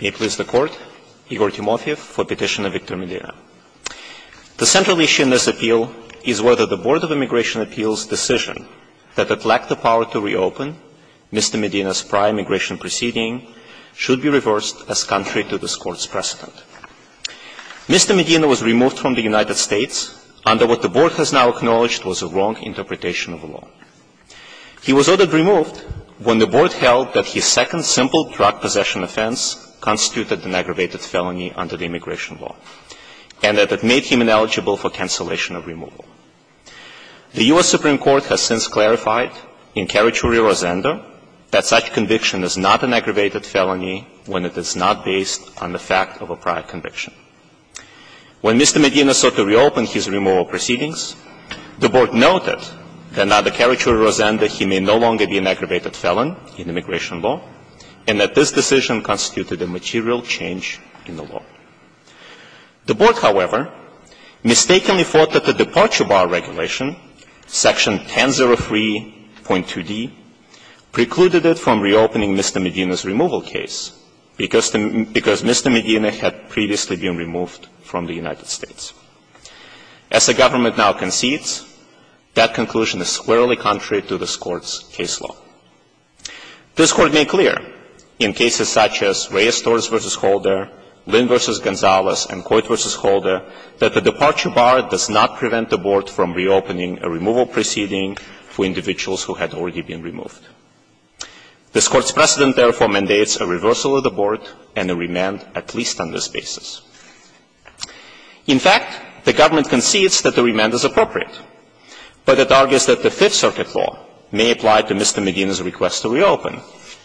May it please the Court, Igor Timofeev for petition of Victor Medina. The central issue in this appeal is whether the Board of Immigration Appeals' decision that it lacked the power to reopen Mr. Medina's prior immigration proceeding should be reversed as contrary to this Court's precedent. Mr. Medina was removed from the United States under what the Board has now held that his second simple drug possession offense constituted an aggravated felony under the immigration law, and that it made him ineligible for cancellation of removal. The U.S. Supreme Court has since clarified in Carituri Rosendo that such conviction is not an aggravated felony when it is not based on the fact of a prior conviction. When Mr. Medina sought to reopen his removal proceedings, the Board noted that under Carituri Rosendo, Mr. Medina was not an aggravated felon in immigration law, and that this decision constituted a material change in the law. The Board, however, mistakenly thought that the departure bar regulation, Section 1003.2d, precluded it from reopening Mr. Medina's removal case, because Mr. Medina had previously been removed from the United States. As the government now concedes, that conclusion is squarely contrary to this case law. This Court made clear in cases such as Reyes-Torres v. Holder, Lynn v. Gonzalez, and Coit v. Holder, that the departure bar does not prevent the Board from reopening a removal proceeding for individuals who had already been removed. This Court's precedent, therefore, mandates a reversal of the Board and a remand at least on this basis. In fact, the government concedes that the remand is appropriate, but it argues that the Fifth Circuit law may apply to Mr. Medina's request to reopen,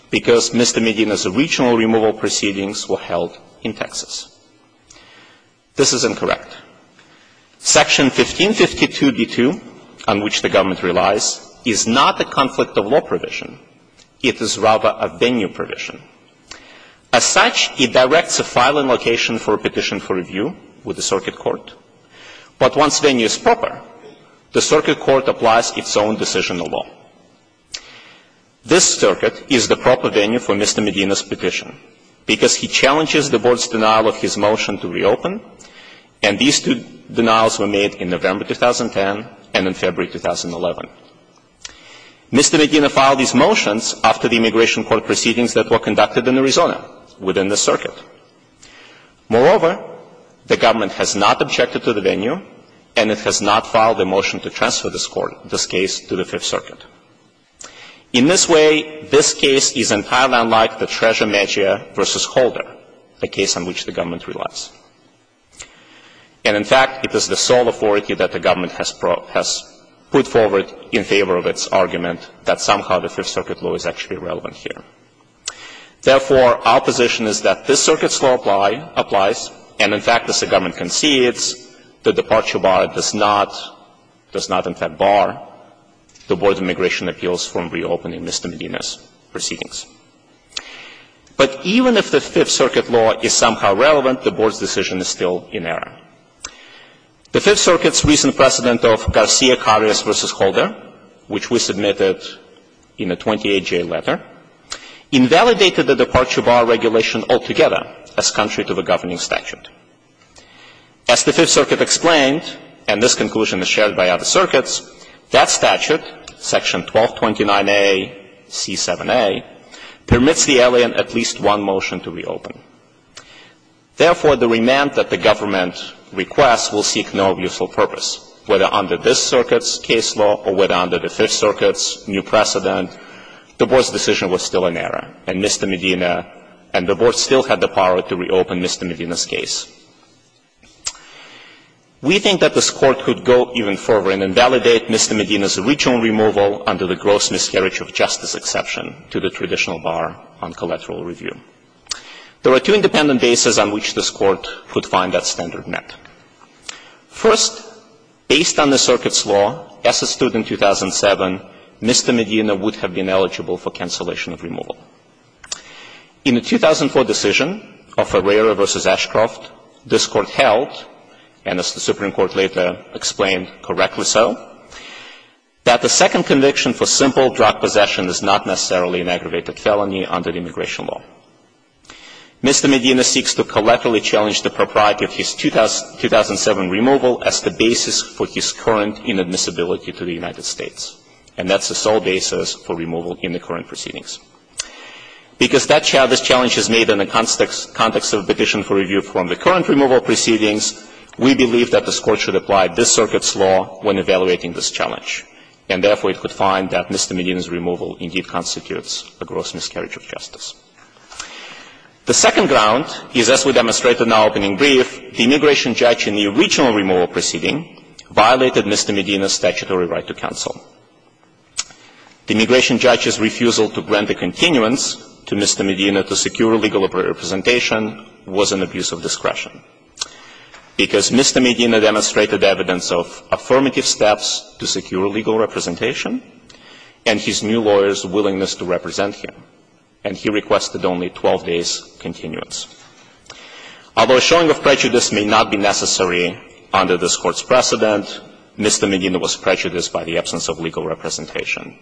because Mr. Medina's original removal proceedings were held in Texas. This is incorrect. Section 1552.d.2, on which the government relies, is not a conflict of law provision. It is rather a venue provision. As such, it directs a filing location for a petition for review with the Circuit Court. But once venue is proper, the Circuit Court applies its own decisional law. This circuit is the proper venue for Mr. Medina's petition, because he challenges the Board's denial of his motion to reopen, and these two denials were made in November 2010 and in February 2011. Mr. Medina filed his motions after the immigration court proceedings that were conducted in Arizona within the circuit. Moreover, the government has not objected to the venue, and it has not filed a motion to transfer this court, this case, to the Fifth Circuit. In this way, this case is entirely unlike the Treasure Maggia v. Holder, the case on which the government relies. And in fact, it is the sole authority that the government has put forward in favor of its argument that somehow the Fifth Circuit law is actually relevant here. Therefore, our position is that this circuit's law applies, and in fact, as the government concedes, the departure bar does not in fact bar the Board's immigration appeals from reopening Mr. Medina's proceedings. But even if the Fifth Circuit law is somehow relevant, the Board's decision is still in error. The Fifth Circuit's recent precedent of Garcia-Carras v. Holder, which we submitted in a 28-J letter, invalidated the departure bar regulation altogether as contrary to the governing statute. As the Fifth Circuit explained, and this conclusion is shared by other circuits, that statute, Section 1229A, C7A, permits the alien at least one motion to reopen. Therefore, the remand that the government requests will seek no useful purpose, whether under this circuit's case law or whether under the Fifth Circuit's new precedent. The Board's decision was still in error, and Mr. Medina and the Board still had the power to reopen Mr. Medina's case. We think that this Court could go even further and invalidate Mr. Medina's original removal under the gross miscarriage of justice exception to the traditional bar on collateral review. There are two independent bases on which this Court could find that standard met. First, based on the circuit's law, as it stood in 2007, Mr. Medina would have been eligible for cancellation of removal. In the 2004 decision of Ferreira v. Ashcroft, this Court held, and as the Supreme Court later explained, correctly so, that the second conviction for simple drug possession is not necessarily an aggravated felony under the immigration law. Mr. Medina seeks to collaterally challenge the propriety of his 2007 removal as the basis for his current inadmissibility to the United States. And that's the sole basis for removal in the current proceedings. Because this challenge is made in the context of a petition for review from the current removal proceedings, we believe that this Court should apply this circuit's law when evaluating this challenge. And therefore, it could find that Mr. Medina's removal indeed constitutes a gross miscarriage of justice. The second ground is, as we demonstrated in our opening brief, the immigration judge in the original removal proceeding violated Mr. Medina's statutory right to counsel. The immigration judge's refusal to grant a continuance to Mr. Medina to secure legal representation was an abuse of discretion. Because Mr. Medina demonstrated evidence of affirmative steps to secure legal representation, and his new lawyer's willingness to represent him. And he requested only 12 days' continuance. Although a showing of prejudice may not be necessary under this Court's precedent, Mr. Medina was prejudiced by the absence of legal representation.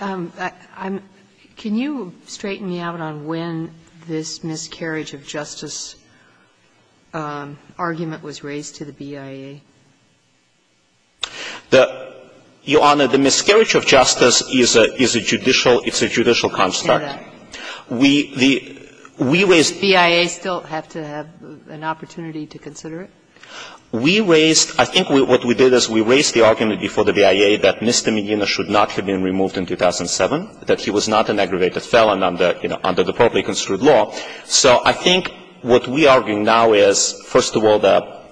Can you straighten me out on when this miscarriage of justice argument was raised to the BIA? The, Your Honor, the miscarriage of justice is a judicial, it's a judicial construct. We, we raised. Does the BIA still have to have an opportunity to consider it? We raised, I think what we did is we raised the argument before the BIA that Mr. Medina should not have been removed in 2007, that he was not an aggravated felon under, you know, under the properly construed law. So I think what we are arguing now is, first of all, the,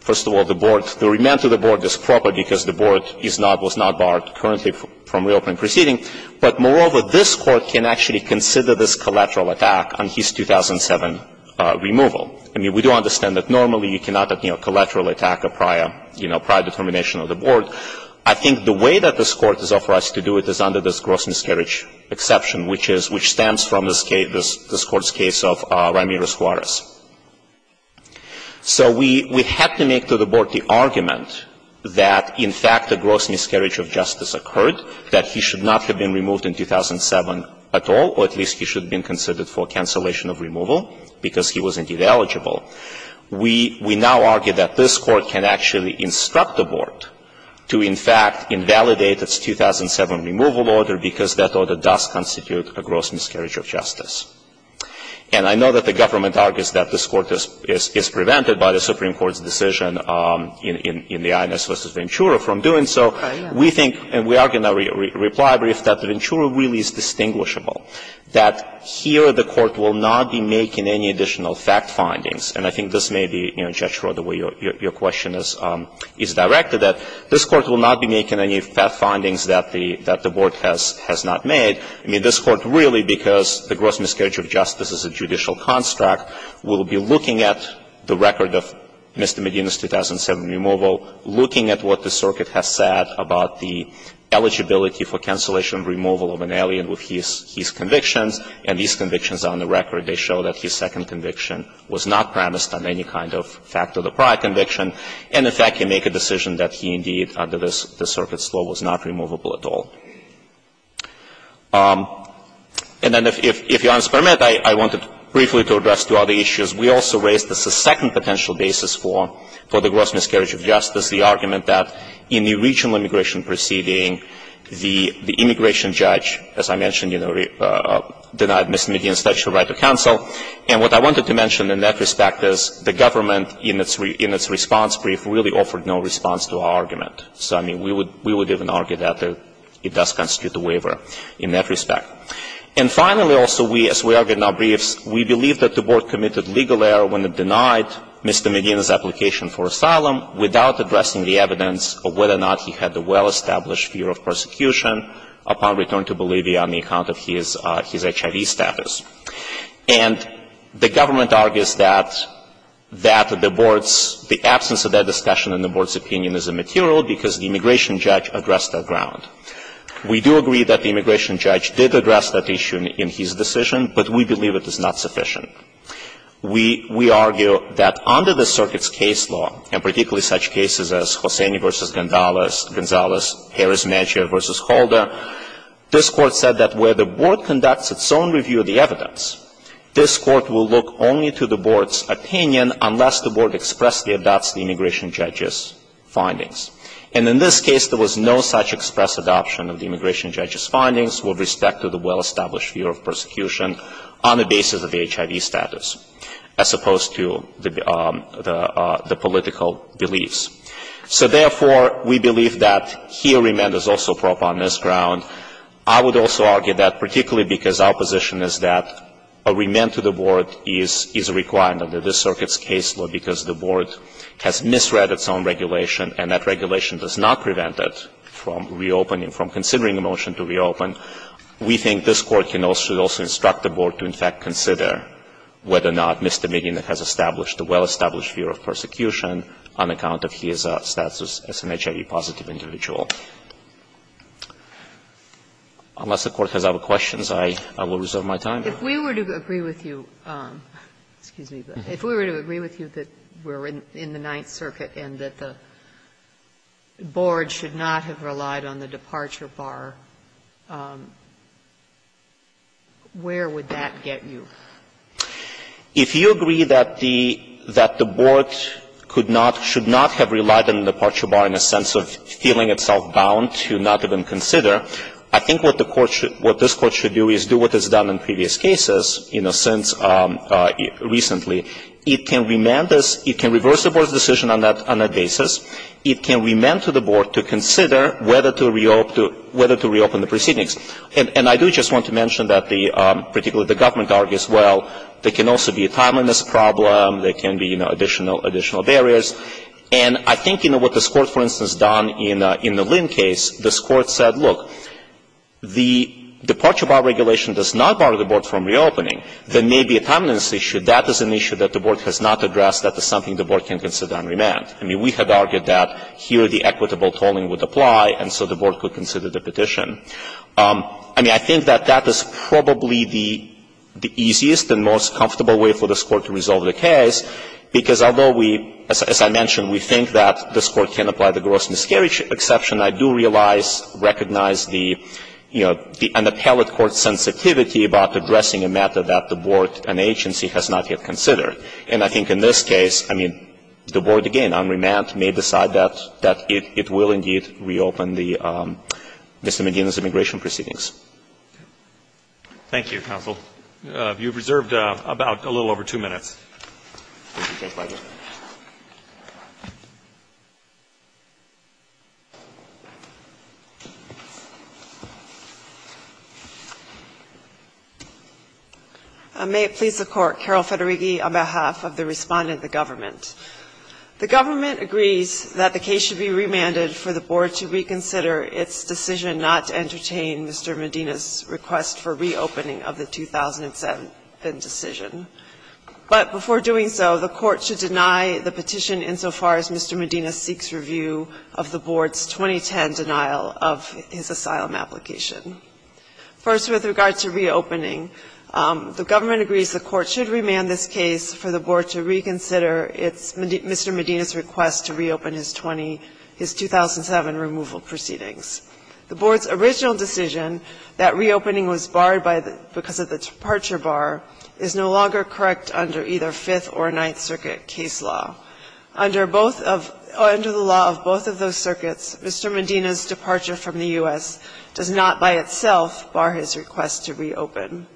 first of all, the board, the remand to the board is proper because the board is not, was not barred currently from reopening proceeding. But moreover, this Court can actually consider this collateral attack on his 2007 removal. I mean, we do understand that normally you cannot, you know, collateral attack a prior, you know, prior determination of the board. I think the way that this Court has offered us to do it is under this gross miscarriage exception, which is, which stems from this case, this Court's case of Ramiro Suarez. So we, we had to make to the board the argument that, in fact, the gross miscarriage of justice occurred, that he should not have been removed in 2007 at all, or at least he should have been considered for cancellation of removal because he was indeed eligible. We, we now argue that this Court can actually instruct the board to, in fact, invalidate its 2007 removal order because that order does constitute a gross miscarriage of justice. And I know that the government argues that this Court is, is prevented by the Supreme Court's decision in, in, in the Inez versus Ventura from doing so. We think, and we are going to reply brief, that Ventura really is distinguishable, that here the Court will not be making any additional fact findings. And I think this may be, you know, Judge Schroder, the way your, your question is, is directed that this Court will not be making any fact findings that the, that the board has, has not made. I mean, this Court really, because the gross miscarriage of justice is a judicial construct, will be looking at the record of Mr. Medina's 2007 removal, looking at what the circuit has said about the eligibility for his convictions. And these convictions on the record, they show that his second conviction was not premised on any kind of fact of the prior conviction. And, in fact, can make a decision that he indeed, under this, this circuit's law, was not removable at all. And then if, if, if Your Honor's permit, I, I wanted briefly to address two other issues. We also raised as a second potential basis for, for the gross miscarriage of justice the argument that in the regional immigration proceeding, the, the denied Mr. Medina's right to counsel. And what I wanted to mention in that respect is the government in its, in its response brief really offered no response to our argument. So, I mean, we would, we would even argue that it does constitute a waiver in that respect. And finally, also, we, as we argue in our briefs, we believe that the board committed legal error when it denied Mr. Medina's application for asylum without addressing the evidence of whether or not he had the well-established fear of persecution upon return to Bolivia on the account of his, his HIV status. And the government argues that, that the board's, the absence of that discussion in the board's opinion is immaterial because the immigration judge addressed that ground. We do agree that the immigration judge did address that issue in, in his decision, but we believe it is not sufficient. We, we argue that under the circuit's case law, and particularly such cases as Hosseini v. Gonzales, Harris-Medjia v. Holder, this Court said that where the board conducts its own review of the evidence, this Court will look only to the board's opinion unless the board expressly adopts the immigration judge's findings. And in this case, there was no such express adoption of the immigration judge's HIV status, as opposed to the, the, the political beliefs. So therefore, we believe that here remand is also proper on this ground. I would also argue that particularly because our position is that a remand to the board is, is required under this circuit's case law because the board has misread its own regulation, and that regulation does not prevent it from reopening, from considering a motion to reopen. We think this Court, you know, should also instruct the board to, in fact, consider whether or not misdemeaning has established a well-established fear of persecution on account of his status as an HIV-positive individual. Unless the Court has other questions, I, I will reserve my time. If we were to agree with you, excuse me, but if we were to agree with you that we're in, in the Ninth Circuit and that the board should not have relied on the departure bar, where would that get you? If you agree that the, that the board could not, should not have relied on the departure bar in a sense of feeling itself bound to not even consider, I think what the Court should, what this Court should do is do what it's done in previous cases, you know, since recently. It can remand us, it can reverse the board's decision on that, on that basis. It can remand to the board to consider whether to reopen, whether to reopen the proceedings. And, and I do just want to mention that the, particularly the government argues, well, there can also be a timeliness problem, there can be, you know, additional, additional barriers. And I think, you know, what this Court, for instance, done in, in the Lynn case, this Court said, look, the departure bar regulation does not bar the board from reopening. There may be a timeliness issue. That is an issue that the board has not addressed. That is something the board can consider and remand. I mean, we had argued that here the equitable tolling would apply, and so the board could consider the petition. I mean, I think that that is probably the, the easiest and most comfortable way for this Court to resolve the case, because although we, as I mentioned, we think that this Court can apply the gross miscarriage exception, I do realize, recognize the, you know, the appellate court's sensitivity about addressing a matter that the board and agency has not yet considered. And I think in this case, I mean, the board, again, on remand, may decide that, that it, it will indeed reopen the Mr. Medina's immigration proceedings. Thank you. Thank you, counsel. You have reserved about a little over two minutes. May it please the Court. Carol Federighi on behalf of the respondent of the government. The government agrees that the case should be remanded for the board to reconsider its decision not to entertain Mr. Medina's request for reopening of the 2007 decision. But before doing so, the court should deny the petition insofar as Mr. Medina seeks review of the board's 2010 denial of his asylum application. First, with regard to reopening, the government agrees the court should remand this case for the board to reconsider its Mr. Medina's request to reopen his 20, his 2007 removal proceedings. The board's original decision that reopening was barred by the, because of the departure bar, is no longer correct under either Fifth or Ninth Circuit case law. Under both of, under the law of both of those circuits, Mr. Medina's departure from the U.S. does not by itself bar his request to reopen.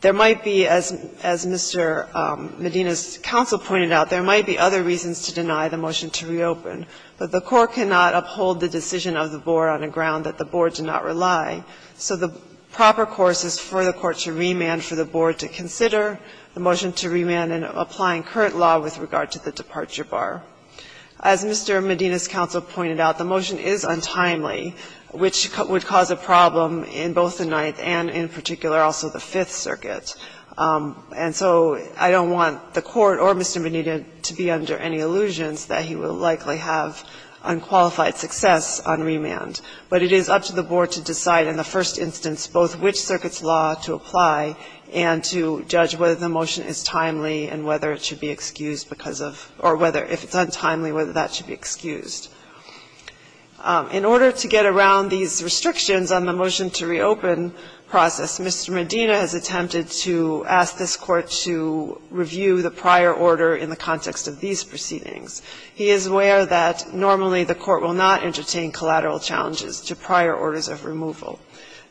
There might be, as Mr. Medina's counsel pointed out, there might be other reasons to deny the motion to reopen, but the court cannot uphold the decision of the board on a ground that the board did not rely. So the proper course is for the court to remand, for the board to consider the motion to remand in applying current law with regard to the departure bar. As Mr. Medina's counsel pointed out, the motion is untimely, which would cause a problem in both the Ninth and, in particular, also the Fifth Circuit. And so I don't want the court or Mr. Medina to be under any illusions that he will likely have unqualified success on remand. But it is up to the board to decide in the first instance both which circuit's law to apply and to judge whether the motion is timely and whether it should be excused because of, or whether, if it's untimely, whether that should be excused. In order to get around these restrictions on the motion to reopen process, Mr. Medina has attempted to ask this Court to review the prior order in the context of these proceedings. He is aware that normally the court will not entertain collateral challenges to prior orders of removal.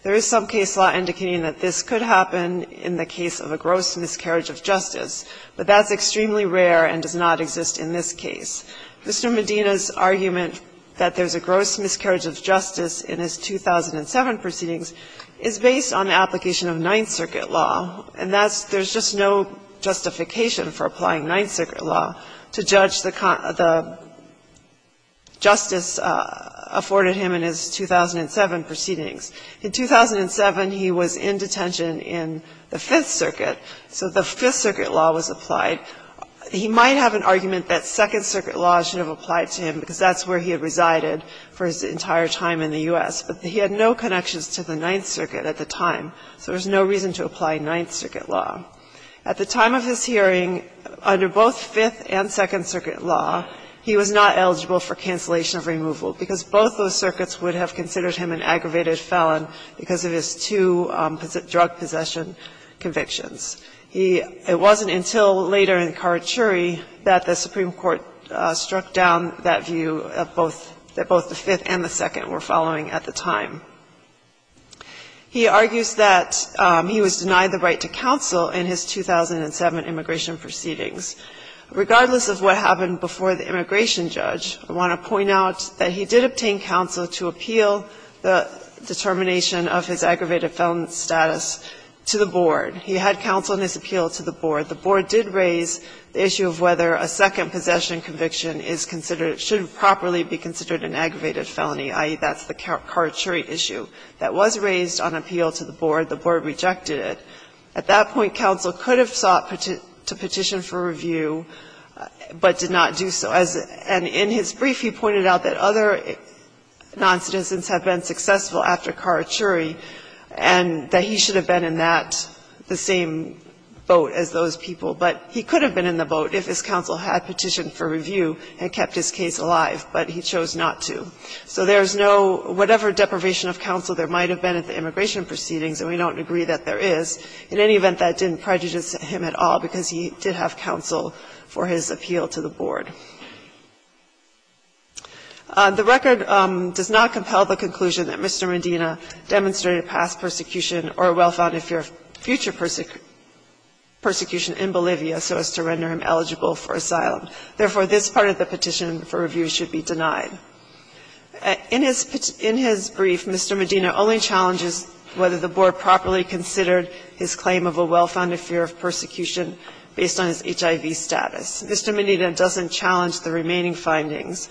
There is some case law indicating that this could happen in the case of a gross miscarriage of justice, but that's extremely rare and does not exist in this case. Mr. Medina's argument that there's a gross miscarriage of justice in his 2007 proceedings is based on application of Ninth Circuit law, and that's there's just no justification for applying Ninth Circuit law to judge the justice afforded him in his 2007 proceedings. In 2007, he was in detention in the Fifth Circuit, so the Fifth Circuit law was applied. He might have an argument that Second Circuit law should have applied to him because that's where he had resided for his entire time in the U.S., but he had no connections to the Ninth Circuit at the time, so there's no reason to apply Ninth Circuit law. At the time of his hearing, under both Fifth and Second Circuit law, he was not eligible for cancellation of removal, because both those circuits would have considered him an aggravated felon because of his two drug possession convictions. He — it wasn't until later in Karachuri that the Supreme Court struck down that view of both — that both the Fifth and the Second were following at the time. He argues that he was denied the right to counsel in his 2007 immigration proceedings. Regardless of what happened before the immigration judge, I want to point out that he did obtain counsel to appeal the determination of his aggravated felon status to the board. He had counsel in his appeal to the board. The board did raise the issue of whether a second possession conviction is considered — should properly be considered an aggravated felony, i.e., that's the Karachuri issue that was raised on appeal to the board. The board rejected it. At that point, counsel could have sought to petition for review, but did not do so. And in his brief, he pointed out that other noncitizens had been successful after Karachuri, and that he should have been in that — the same boat as those people, but he could have been in the boat if his counsel had petitioned for review and kept his case alive, but he chose not to. So there's no — whatever deprivation of counsel there might have been at the immigration proceedings, and we don't agree that there is, in any event, that didn't prejudice him at all, because he did have counsel for his appeal to the board. The record does not compel the conclusion that Mr. Medina demonstrated past persecution or a well-founded fear of future persecution in Bolivia so as to render him eligible for asylum. Therefore, this part of the petition for review should be denied. In his brief, Mr. Medina only challenges whether the board properly considered his claim of a well-founded fear of persecution based on his HIV status. Mr. Medina doesn't challenge the remaining findings.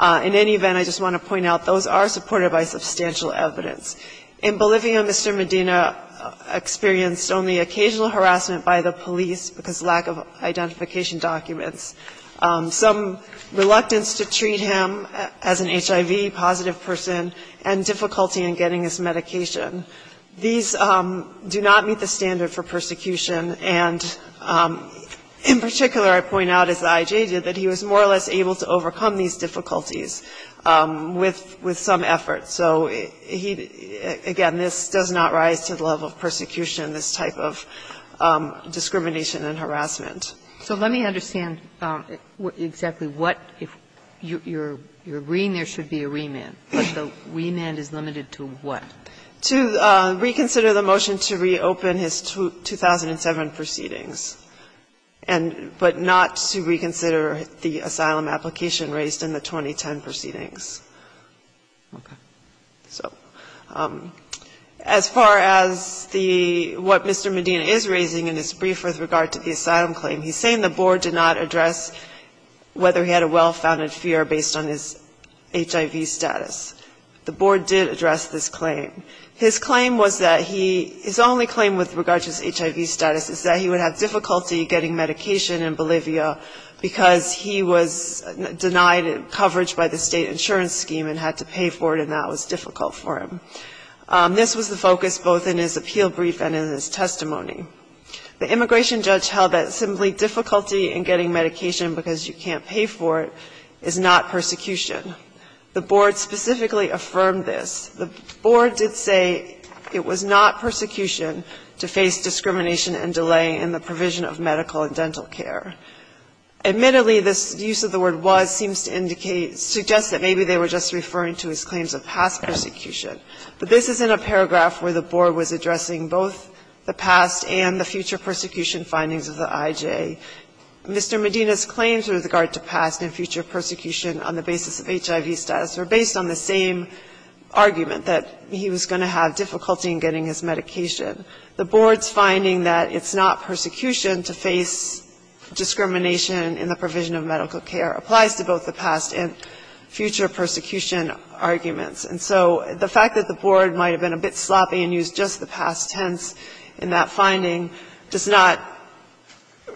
In any event, I just want to point out those are supported by substantial evidence. In Bolivia, Mr. Medina experienced only occasional harassment by the police because of lack of identification documents, some reluctance to treat him as an HIV-positive person, and difficulty in getting his medication. These do not meet the standard for persecution, and in particular, I point out, as the IJ did, that he was more or less able to overcome these difficulties with some effort. So he, again, this does not rise to the level of persecution, this type of discrimination and harassment. So let me understand exactly what, if you're agreeing there should be a remand, but the remand is limited to what? To reconsider the motion to reopen his 2007 proceedings, but not to reconsider the asylum application raised in the 2010 proceedings. Okay. So as far as the, what Mr. Medina is raising in his brief with regard to the asylum claim, he's saying the board did not address whether he had a well-founded fear based on his HIV status. The board did address this claim. His claim was that he, his only claim with regard to his HIV status is that he would have difficulty getting medication in Bolivia because he was denied coverage by the state insurance scheme and had to pay for it, and that was difficult for him. This was the focus both in his appeal brief and in his testimony. The immigration judge held that simply difficulty in getting medication because you can't pay for it is not persecution. The board specifically affirmed this. The board did say it was not persecution to face discrimination and delay in the provision of medical and dental care. Admittedly, this use of the word was seems to indicate, suggests that maybe they were just referring to his claims of past persecution. But this is in a paragraph where the board was addressing both the past and the future persecution findings of the IJ. Mr. Medina's claims with regard to past and future persecution on the basis of HIV status were based on the same argument, that he was going to have difficulty in getting his medication. The board's finding that it's not persecution to face discrimination in the provision of medical care applies to both the past and future persecution arguments. And so the fact that the board might have been a bit sloppy and used just the past tense in that finding does not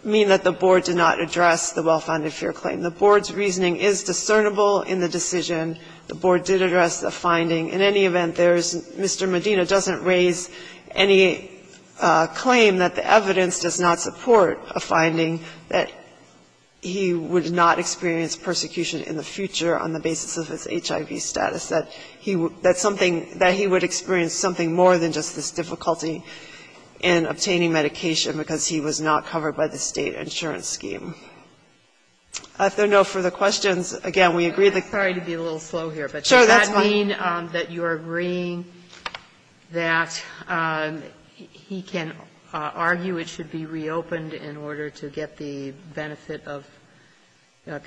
mean that the board did not address the well-founded fear claim. The board's reasoning is discernible in the decision. The board did address the finding. In any event, there's Mr. Medina doesn't raise any claim that the evidence does not support a finding that he would not experience persecution in the future on the basis of his HIV status, that he would experience something more than just this difficulty in obtaining medication because he was not covered by the State insurance scheme. If there are no further questions, again, we agree that. Sotomayor, I'm sorry to be a little slow here, but does that mean that you're agreeing that he can argue it should be reopened in order to get the benefit of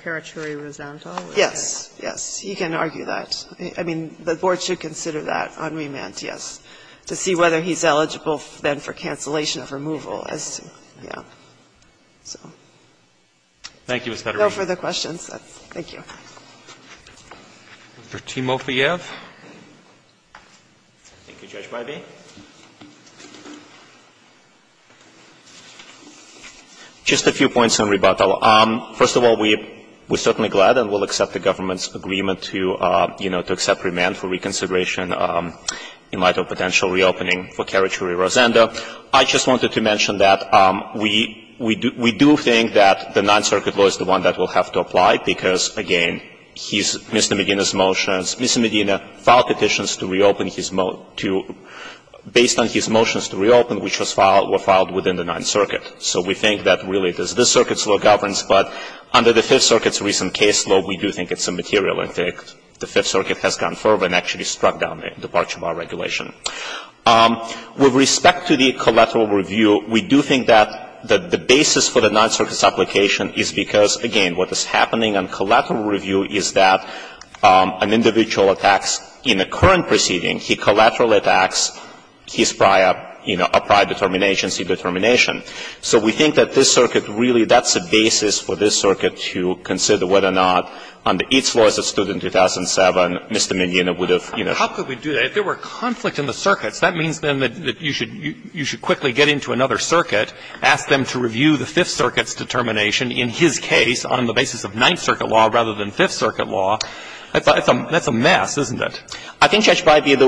carotid resentment? Yes. Yes. He can argue that. I mean, the board should consider that on remand, yes, to see whether he's eligible then for cancellation of removal as to, yeah. So. Thank you, Ms. Peterman. No further questions. Thank you. Mr. Timofeyev. Thank you, Judge Bybee. Just a few points in rebuttal. First of all, we're certainly glad and will accept the government's agreement to, you know, to accept remand for reconsideration in light of potential reopening for carotid resentment. I just wanted to mention that we do think that the Ninth Circuit law is the one that will have to apply, because, again, he's Mr. Medina's motions. Mr. Medina filed petitions to reopen his to, based on his motions to reopen, which was filed within the Ninth Circuit. So we think that really it is this Circuit's law governs, but under the Fifth Circuit's recent case law, we do think it's immaterial. In fact, the Fifth Circuit has gone further and actually struck down the departure bar regulation. And what is happening on collateral review is that an individual attacks in a current proceeding, he collateral attacks his prior, you know, prior determination, C determination. So we think that this Circuit really, that's the basis for this Circuit to consider whether or not under its laws that stood in 2007, Mr. Medina would have, you know. How could we do that? If there were conflict in the circuits, that means then that you should quickly get into another circuit, ask them to review the Fifth Circuit's determination in his case on the basis of Ninth Circuit law rather than Fifth Circuit law. That's a mess, isn't it? I think, Judge Breyer,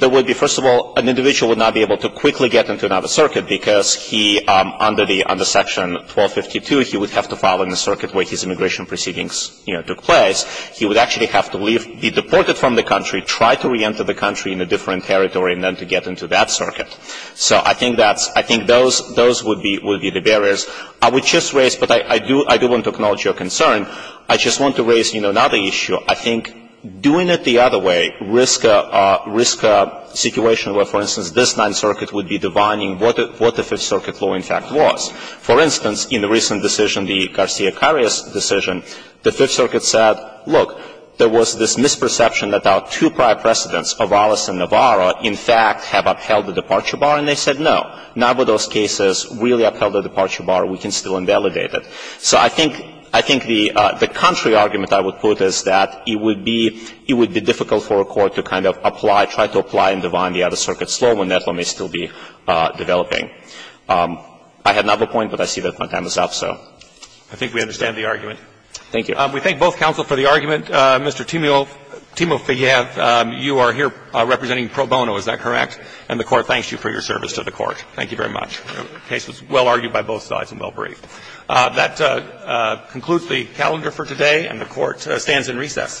there would be, first of all, an individual would not be able to quickly get into another circuit because he, under the Section 1252, he would have to file in the circuit where his immigration proceedings, you know, took place. He would actually have to leave, be deported from the country, try to reenter the country in a different territory, and then to get into that circuit. So I think that's, I think those would be the barriers. I would just raise, but I do want to acknowledge your concern. I just want to raise, you know, another issue. I think doing it the other way risks a situation where, for instance, this Ninth Circuit would be divining what the Fifth Circuit law in fact was. For instance, in the recent decision, the Garcia-Carreras decision, the Fifth Circuit said, look, there was this misperception that our two prior precedents, Avalos and Navarro, in fact have upheld the departure bar, and they said no. Navarro's case has really upheld the departure bar. We can still invalidate it. So I think, I think the contrary argument I would put is that it would be, it would be difficult for a court to kind of apply, try to apply and divine the other circuit law when that one may still be developing. I have another point, but I see that my time is up, so. Roberts. I think we understand the argument. Thank you. We thank both counsel for the argument. Mr. Timofeyev, you are here representing Pro Bono, is that correct? And the Court thanks you for your service to the Court. Thank you very much. The case was well argued by both sides and well briefed. That concludes the calendar for today, and the Court stands in recess.